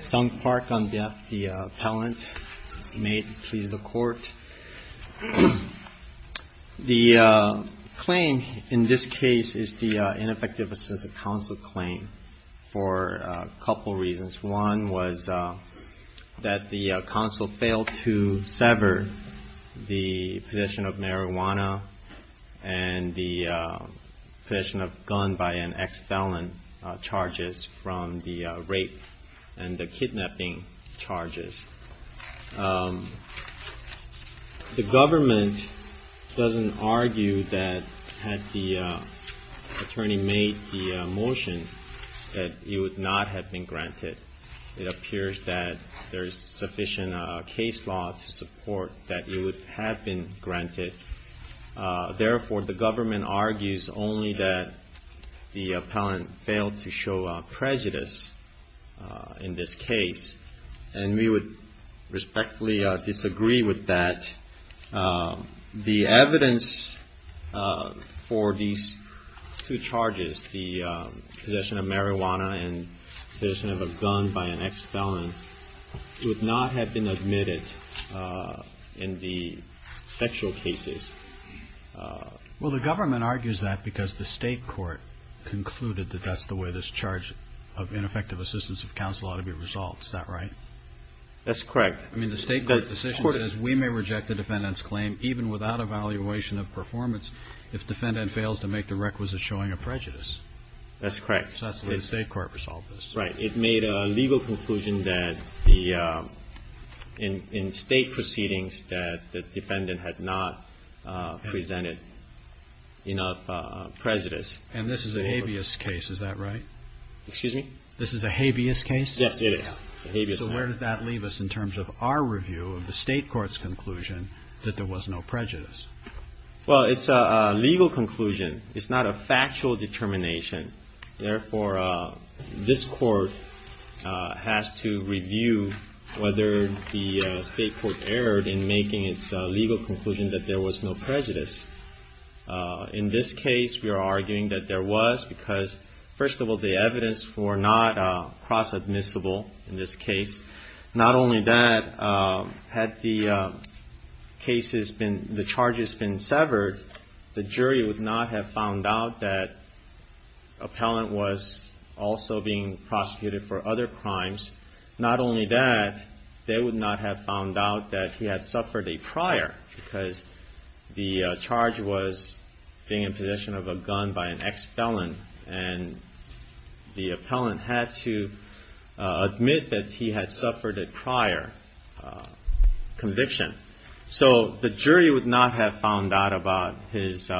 Sunk Park on behalf of the appellant. May it please the court. The claim in this case is the ineffective assistance of counsel claim for a couple reasons. One was that the counsel failed to sever the possession of marijuana and the possession of gun by an ex-felon charges from the rape and the kidnapping charges. The government doesn't argue that had the attorney made the motion that it would not have been granted. It appears that there is sufficient case law to support that it would have been granted. Therefore, the government argues only that the appellant failed to show prejudice in this case. And we would respectfully disagree with that. The evidence for these two charges, the possession of marijuana and possession of a gun by an ex-felon, would not have been admitted in the sexual cases. Well, the government argues that because the state court concluded that that's the way this charge of ineffective assistance of counsel ought to be resolved. Is that right? That's correct. I mean, the state court's decision is we may reject the defendant's claim even without evaluation of performance if defendant fails to make the requisite showing a prejudice. That's correct. So that's the way the state court resolved this. Right. It made a legal conclusion that the – in state proceedings that the defendant had not presented enough prejudice. And this is a habeas case. Is that right? Excuse me? This is a habeas case? Yes, it is. So where does that leave us in terms of our review of the state court's conclusion that there was no prejudice? Well, it's a legal conclusion. It's not a factual determination. Therefore, this court has to review whether the state court erred in making its legal conclusion that there was no prejudice. In this case, we are arguing that there was because, first of all, the evidence were not cross-admissible in this case. Not only that, had the cases been – the charges been severed, the jury would not have found out that appellant was also being prosecuted for other crimes. Not only that, they would not have found out that he had suffered a prior, because the charge was being in possession of a gun by an ex-felon. And the appellant had to admit that he had suffered a prior conviction. So the jury would not have found out about his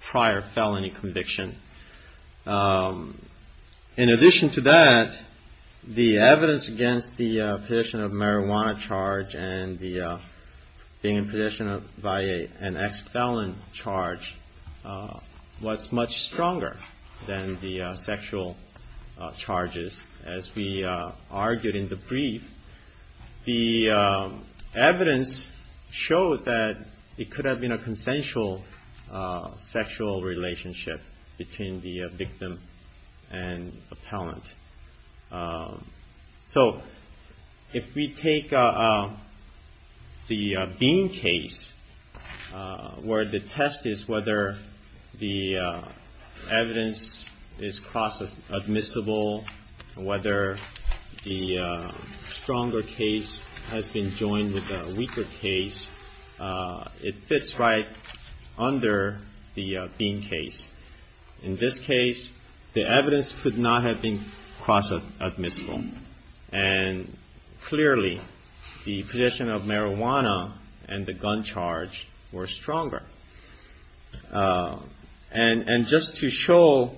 prior felony conviction. In addition to that, the evidence against the possession of marijuana charge and the being in possession of – by an ex-felon charge was much stronger than the sexual charges. As we argued in the brief, the evidence showed that it could have been a consensual sexual relationship between the victim and appellant. So if we take the Bean case, where the test is whether the evidence is cross-admissible, whether the stronger case has been joined with the weaker case, it fits right under the Bean case. In this case, the evidence could not have been cross-admissible. And clearly, the possession of marijuana and the gun charge were stronger. And just to show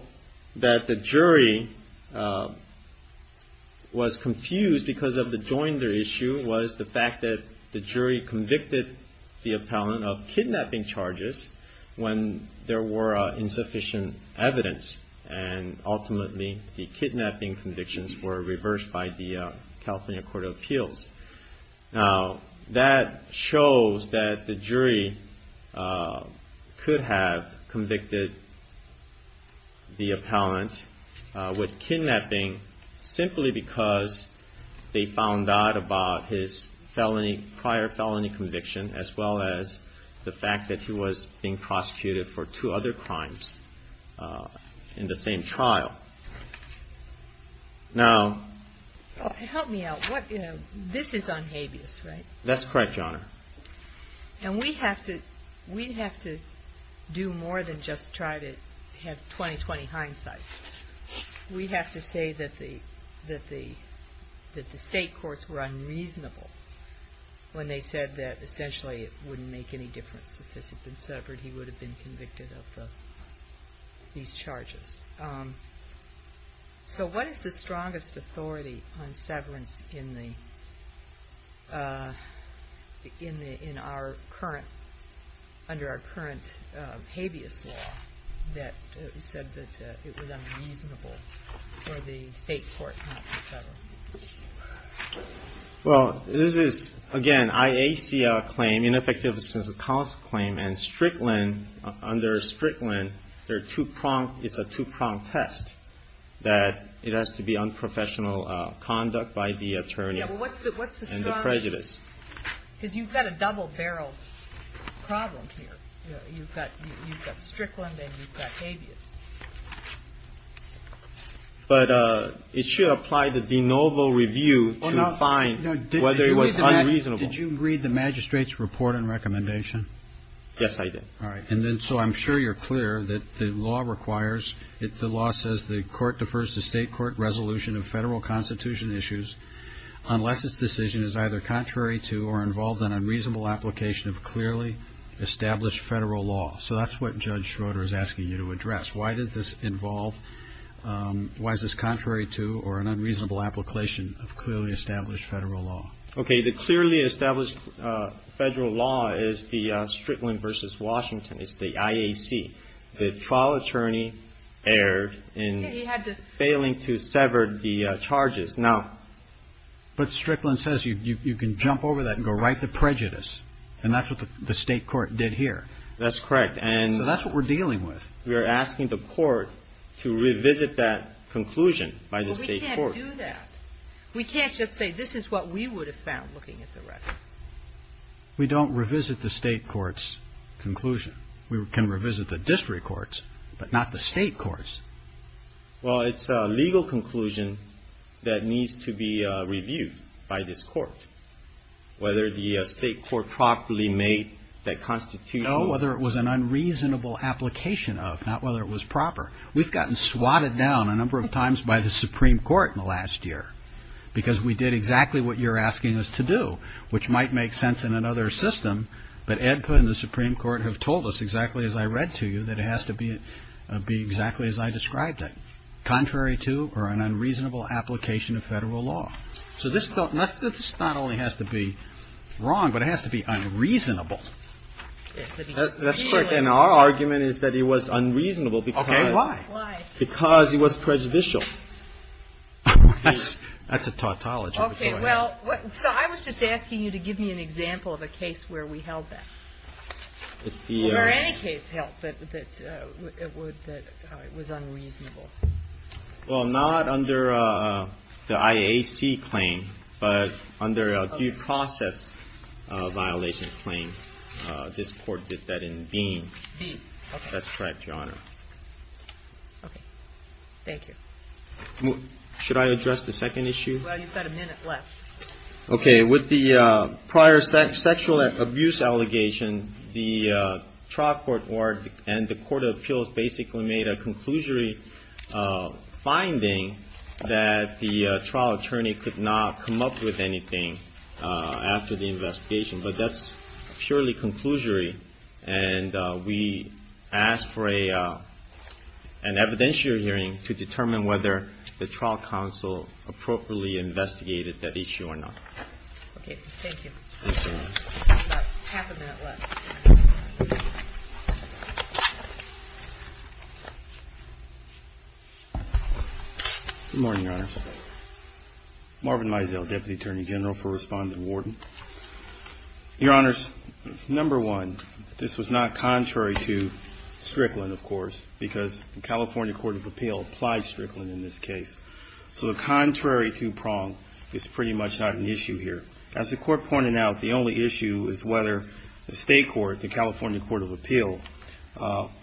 that the jury was confused because of the joinder issue was the fact that the jury convicted the appellant of kidnapping charges when there were insufficient evidence. And ultimately, the kidnapping convictions were reversed by the California Court of Appeals. Now, that shows that the jury could have convicted the appellant with kidnapping simply because they found out about his felony – prior felony conviction as well as the fact that he was being prosecuted for two other crimes in the same trial. Now... Help me out. This is on habeas, right? That's correct, Your Honor. And we have to do more than just try to have 20-20 hindsight. We have to say that the state courts were unreasonable when they said that essentially it wouldn't make any difference if this had been suffered. He would have been convicted of these charges. So what is the strongest authority on severance under our current habeas law that said that it was unreasonable for the state court not to sever? Well, this is, again, IAC claim, ineffectiveness of counsel claim, and Strickland, under Strickland, there are two-pronged – it's a two-pronged test that it has to be unprofessional conduct by the attorney and the prejudice. Yeah, well, what's the strongest – because you've got a double-barreled problem here. You've got Strickland and you've got habeas. But it should apply the de novo review to find whether it was unreasonable. Did you read the magistrate's report and recommendation? Yes, I did. All right. And then so I'm sure you're clear that the law requires – the law says the court defers to state court resolution of federal constitution issues unless its decision is either contrary to or involved in unreasonable application of clearly established federal law. So that's what Judge Schroeder is asking you to address. Why does this involve – why is this contrary to or an unreasonable application of clearly established federal law? Okay. The clearly established federal law is the Strickland v. Washington. It's the IAC. The trial attorney erred in failing to sever the charges. Now – But Strickland says you can jump over that and go right to prejudice. And that's what the state court did here. That's correct. And – So that's what we're dealing with. We are asking the court to revisit that conclusion by the state court. Well, we can't do that. We can't just say this is what we would have found looking at the record. We don't revisit the state court's conclusion. We can revisit the district court's, but not the state court's. Well, it's a legal conclusion that needs to be reviewed by this court, whether the state court properly made that constitution. We don't know whether it was an unreasonable application of, not whether it was proper. We've gotten swatted down a number of times by the Supreme Court in the last year because we did exactly what you're asking us to do, which might make sense in another system. But EDPA and the Supreme Court have told us, exactly as I read to you, that it has to be exactly as I described it, contrary to or an unreasonable application of federal law. So this not only has to be wrong, but it has to be unreasonable. That's correct. And our argument is that it was unreasonable because. Okay. Why? Why? Because it was prejudicial. That's a tautology. Okay. Well, so I was just asking you to give me an example of a case where we held that, where any case held that it was unreasonable. Well, not under the IAC claim, but under due process violation claim. This court did that in Dean. Dean. That's correct, Your Honor. Okay. Thank you. Should I address the second issue? Well, you've got a minute left. Okay. With the prior sexual abuse allegation, the trial court and the court of appeals basically made a conclusory finding that the trial attorney could not come up with anything after the investigation. But that's purely conclusory. And we asked for an evidentiary hearing to determine whether the trial counsel appropriately investigated that issue or not. Okay. Thank you. You've got half a minute left. Good morning, Your Honor. Marvin Mizell, Deputy Attorney General for Respondent Warden. Your Honors, number one, this was not contrary to Strickland, of course, because the California Court of Appeal applied Strickland in this case. So the contrary two-prong is pretty much not an issue here. As the court pointed out, the only issue is whether the state court, the California Court of Appeal,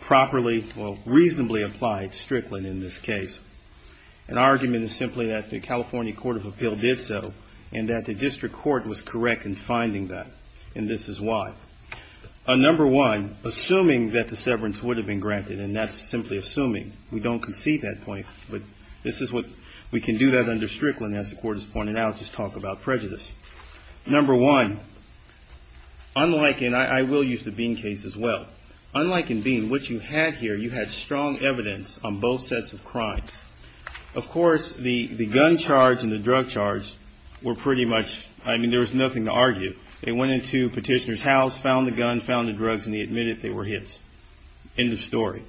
properly, well, reasonably applied Strickland in this case. An argument is simply that the California Court of Appeal did so and that the district court was correct in finding that. And this is why. Number one, assuming that the severance would have been granted, and that's simply assuming, we don't concede that point, but this is what we can do that under Strickland, as the court has pointed out, is talk about prejudice. Number one, unlike in, I will use the Bean case as well, unlike in Bean, what you had here, you had strong evidence on both sets of crimes. Of course, the gun charge and the drug charge were pretty much, I mean, there was nothing to argue. They went into Petitioner's house, found the gun, found the drugs, and he admitted they were his. End of story.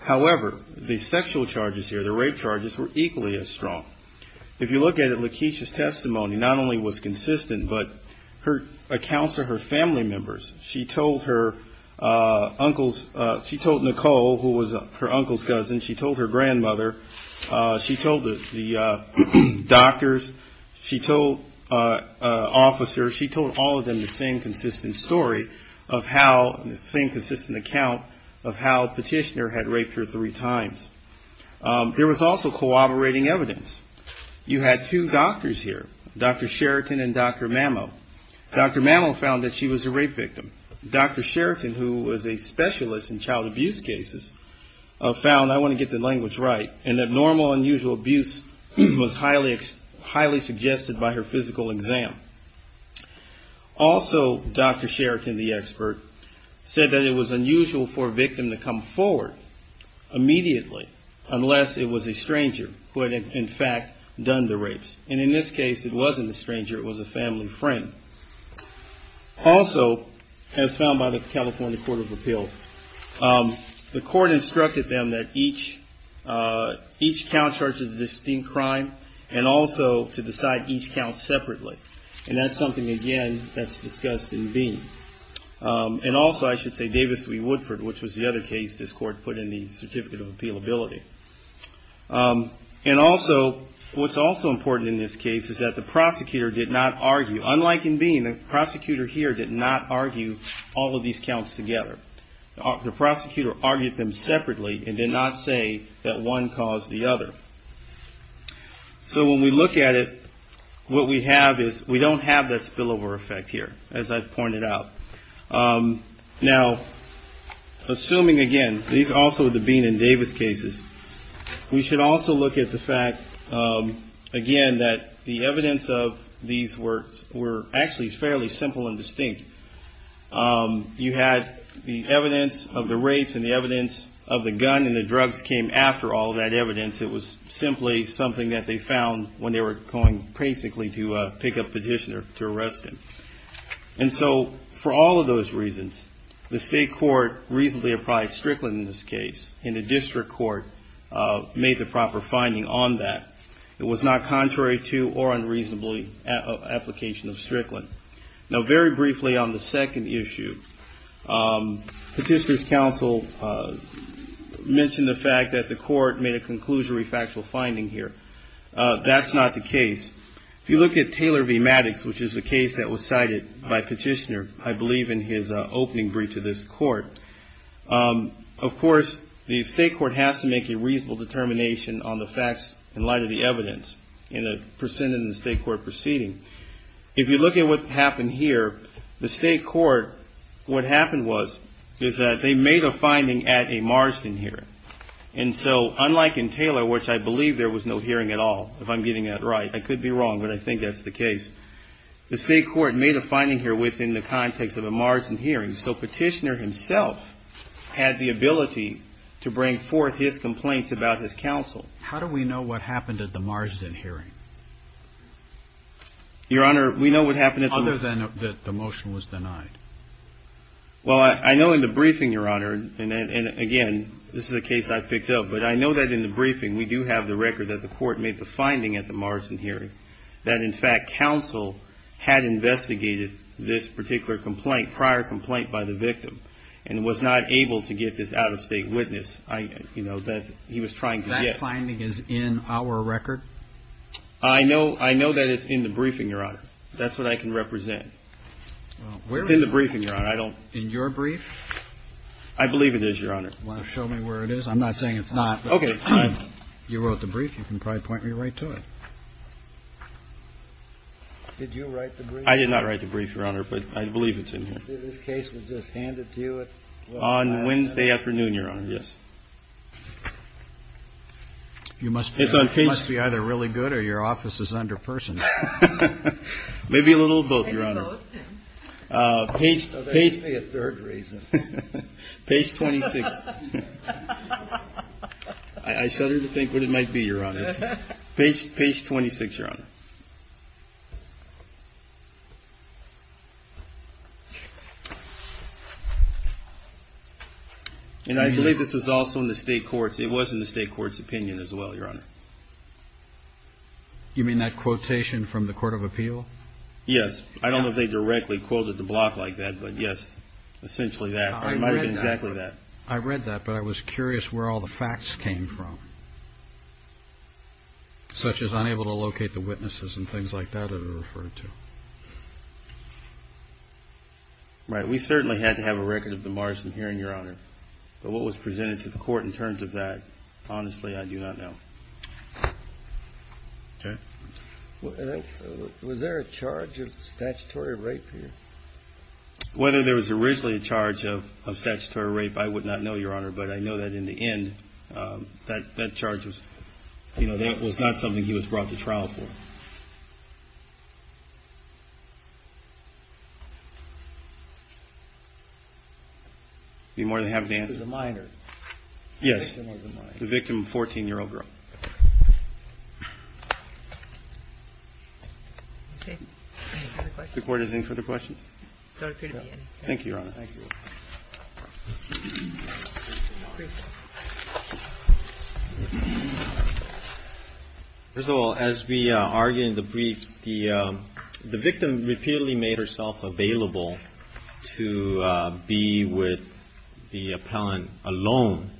However, the sexual charges here, the rape charges, were equally as strong. If you look at it, Lakeisha's testimony not only was consistent, but her accounts of her family members. She told her uncles, she told Nicole, who was her uncle's cousin, she told her grandmother, she told the doctors, she told officers, she told all of them the same consistent story of how, the same consistent account of how Petitioner had raped her three times. There was also cooperating evidence. You had two doctors here, Dr. Sheraton and Dr. Mamo. Dr. Mamo found that she was a rape victim. Dr. Sheraton, who was a specialist in child abuse cases, found, I want to get the language right, and that normal, unusual abuse was highly suggested by her physical exam. Also, Dr. Sheraton, the expert, said that it was unusual for a victim to come forward immediately, unless it was a stranger who had, in fact, done the rapes. And in this case, it wasn't a stranger. It was a family friend. Also, as found by the California Court of Appeal, the court instructed them that each count charges a distinct crime, and also to decide each count separately. And that's something, again, that's discussed in Beane. And also, I should say, Davis v. Woodford, which was the other case this court put in the Certificate of Appealability. And also, what's also important in this case is that the prosecutor did not argue. Unlike in Beane, the prosecutor here did not argue all of these counts together. The prosecutor argued them separately and did not say that one caused the other. So when we look at it, what we have is, we don't have that spillover effect here, as I've pointed out. Now, assuming, again, these are also the Beane and Davis cases, we should also look at the fact, again, that the evidence of these were actually fairly simple and distinct. You had the evidence of the rapes and the evidence of the gun, and the drugs came after all that evidence. It was simply something that they found when they were going, basically, to pick a petitioner to arrest him. And so, for all of those reasons, the state court reasonably applied Strickland in this case, and the district court made the proper finding on that. It was not contrary to or unreasonably application of Strickland. Now, very briefly on the second issue, Petitioner's counsel mentioned the fact that the court made a conclusionary factual finding here. That's not the case. If you look at Taylor v. Maddox, which is the case that was cited by Petitioner, I believe, in his opening brief to this court, of course, the state court has to make a reasonable determination on the facts in light of the evidence in the state court proceeding. If you look at what happened here, the state court, what happened was, is that they made a finding at a margin here. And so, unlike in Taylor, which I believe there was no hearing at all, if I'm getting that right. I could be wrong, but I think that's the case. The state court made a finding here within the context of a margin hearing, so Petitioner himself had the ability to bring forth his complaints about his counsel. How do we know what happened at the margin hearing? Your Honor, we know what happened at the... Other than that the motion was denied. Well, I know in the briefing, Your Honor, and again, this is a case I picked up, but I know that in the briefing we do have the record that the court made the finding at the margin hearing, that in fact counsel had investigated this particular complaint, prior complaint by the victim, and was not able to get this out-of-state witness that he was trying to get. That finding is in our record? I know that it's in the briefing, Your Honor. That's what I can represent. It's in the briefing, Your Honor. In your brief? I believe it is, Your Honor. Do you want to show me where it is? I'm not saying it's not. Okay, fine. You wrote the brief. You can probably point me right to it. Did you write the brief? I did not write the brief, Your Honor, but I believe it's in here. This case was just handed to you at... On Wednesday afternoon, Your Honor, yes. You must be either really good or your office is under person. Maybe a little of both, Your Honor. Page 26. I shudder to think what it might be, Your Honor. Page 26, Your Honor. And I believe this was also in the state courts. It was in the state courts' opinion as well, Your Honor. You mean that quotation from the Court of Appeal? Yes. I don't know if they directly quoted the block like that, but yes, essentially that. It might have been exactly that. I read that, but I was curious where all the facts came from, such as unable to locate the witnesses and things like that it was referred to. Right. We certainly had to have a record of the margin herein, Your Honor. But what was presented to the court in terms of that, honestly, I do not know. Okay. Was there a charge of statutory rape here? Whether there was originally a charge of statutory rape, I would not know, Your Honor. But I know that in the end, that charge was not something he was brought to trial for. I'd be more than happy to answer. The minor. Yes. The victim was a minor. The victim, a 14-year-old girl. Okay. Any further questions? The Court is in for the questions. There will appear to be any. Thank you, Your Honor. Thank you. First of all, as we argued in the briefs, the victim repeatedly made herself available to be with the appellant alone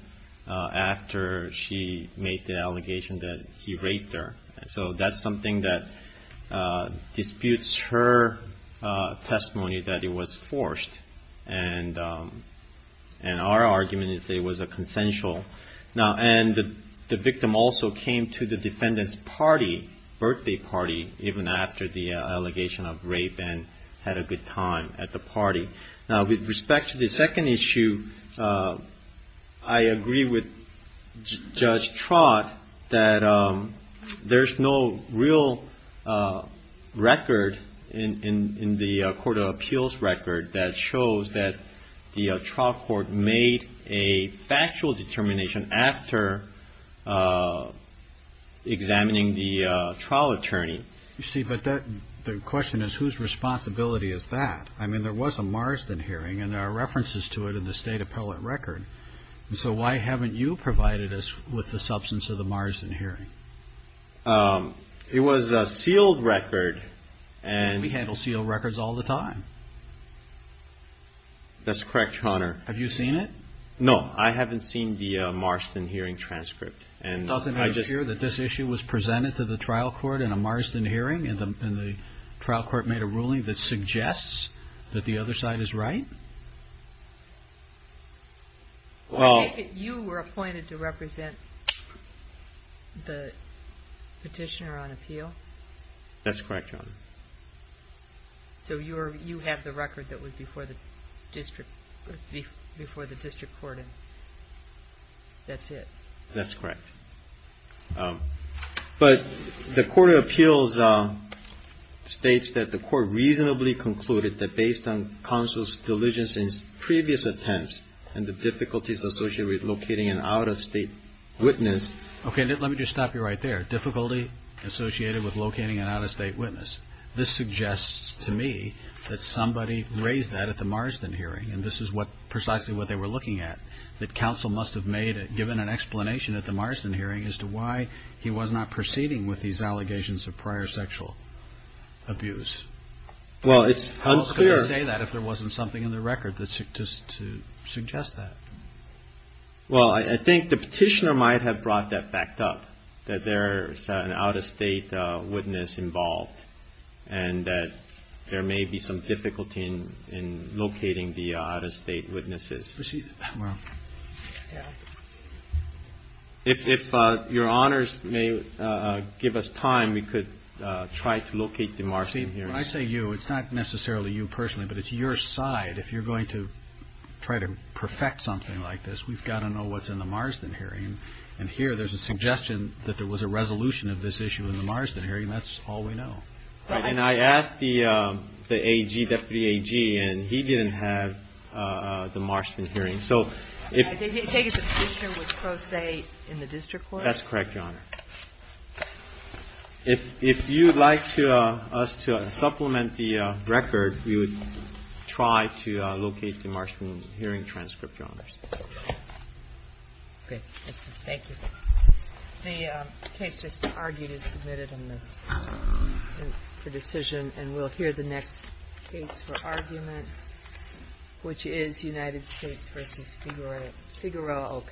after she made the allegation that he raped her. So that's something that disputes her testimony that it was forced. And our argument is that it was a consensual. Now, and the victim also came to the defendant's party, birthday party, even after the allegation of rape and had a good time at the party. Now, with respect to the second issue, I agree with Judge Trott that there's no real record in the Court of Appeals record that shows that the trial court made a factual determination after examining the trial attorney. You see, but the question is, whose responsibility is that? I mean, there was a Marsden hearing, and there are references to it in the state appellate record. So why haven't you provided us with the substance of the Marsden hearing? It was a sealed record. We handle sealed records all the time. That's correct, Your Honor. Have you seen it? No. I haven't seen the Marsden hearing transcript. Doesn't it appear that this issue was presented to the trial court in a Marsden hearing, and the trial court made a ruling that suggests that the other side is right? You were appointed to represent the petitioner on appeal? That's correct, Your Honor. So you have the record that was before the district court, and that's it? That's correct. But the Court of Appeals states that the court reasonably concluded that based on counsel's diligence in previous attempts and the difficulties associated with locating an out-of-state witness. Okay, let me just stop you right there. Difficulty associated with locating an out-of-state witness. This suggests to me that somebody raised that at the Marsden hearing, and this is precisely what they were looking at, that counsel must have given an explanation at the Marsden hearing as to why he was not proceeding with these allegations of prior sexual abuse. Well, it's unclear. Who else could have said that if there wasn't something in the record to suggest that? Well, I think the petitioner might have brought that fact up, that there's an out-of-state witness involved, and that there may be some difficulty in locating the out-of-state witnesses. Well, yeah. If your honors may give us time, we could try to locate the Marsden hearing. See, when I say you, it's not necessarily you personally, but it's your side. If you're going to try to perfect something like this, we've got to know what's in the Marsden hearing, and here there's a suggestion that there was a resolution of this issue in the Marsden hearing, and that's all we know. Right. And I asked the AG, Deputy AG, and he didn't have the Marsden hearing. So if the petitioner was pro se in the district court? That's correct, Your Honor. If you'd like us to supplement the record, we would try to locate the Marsden hearing transcript, Your Honors. Great. Thank you. The case just argued is submitted for decision, and we'll hear the next case for argument, which is United States v. Figueroa Ocampo.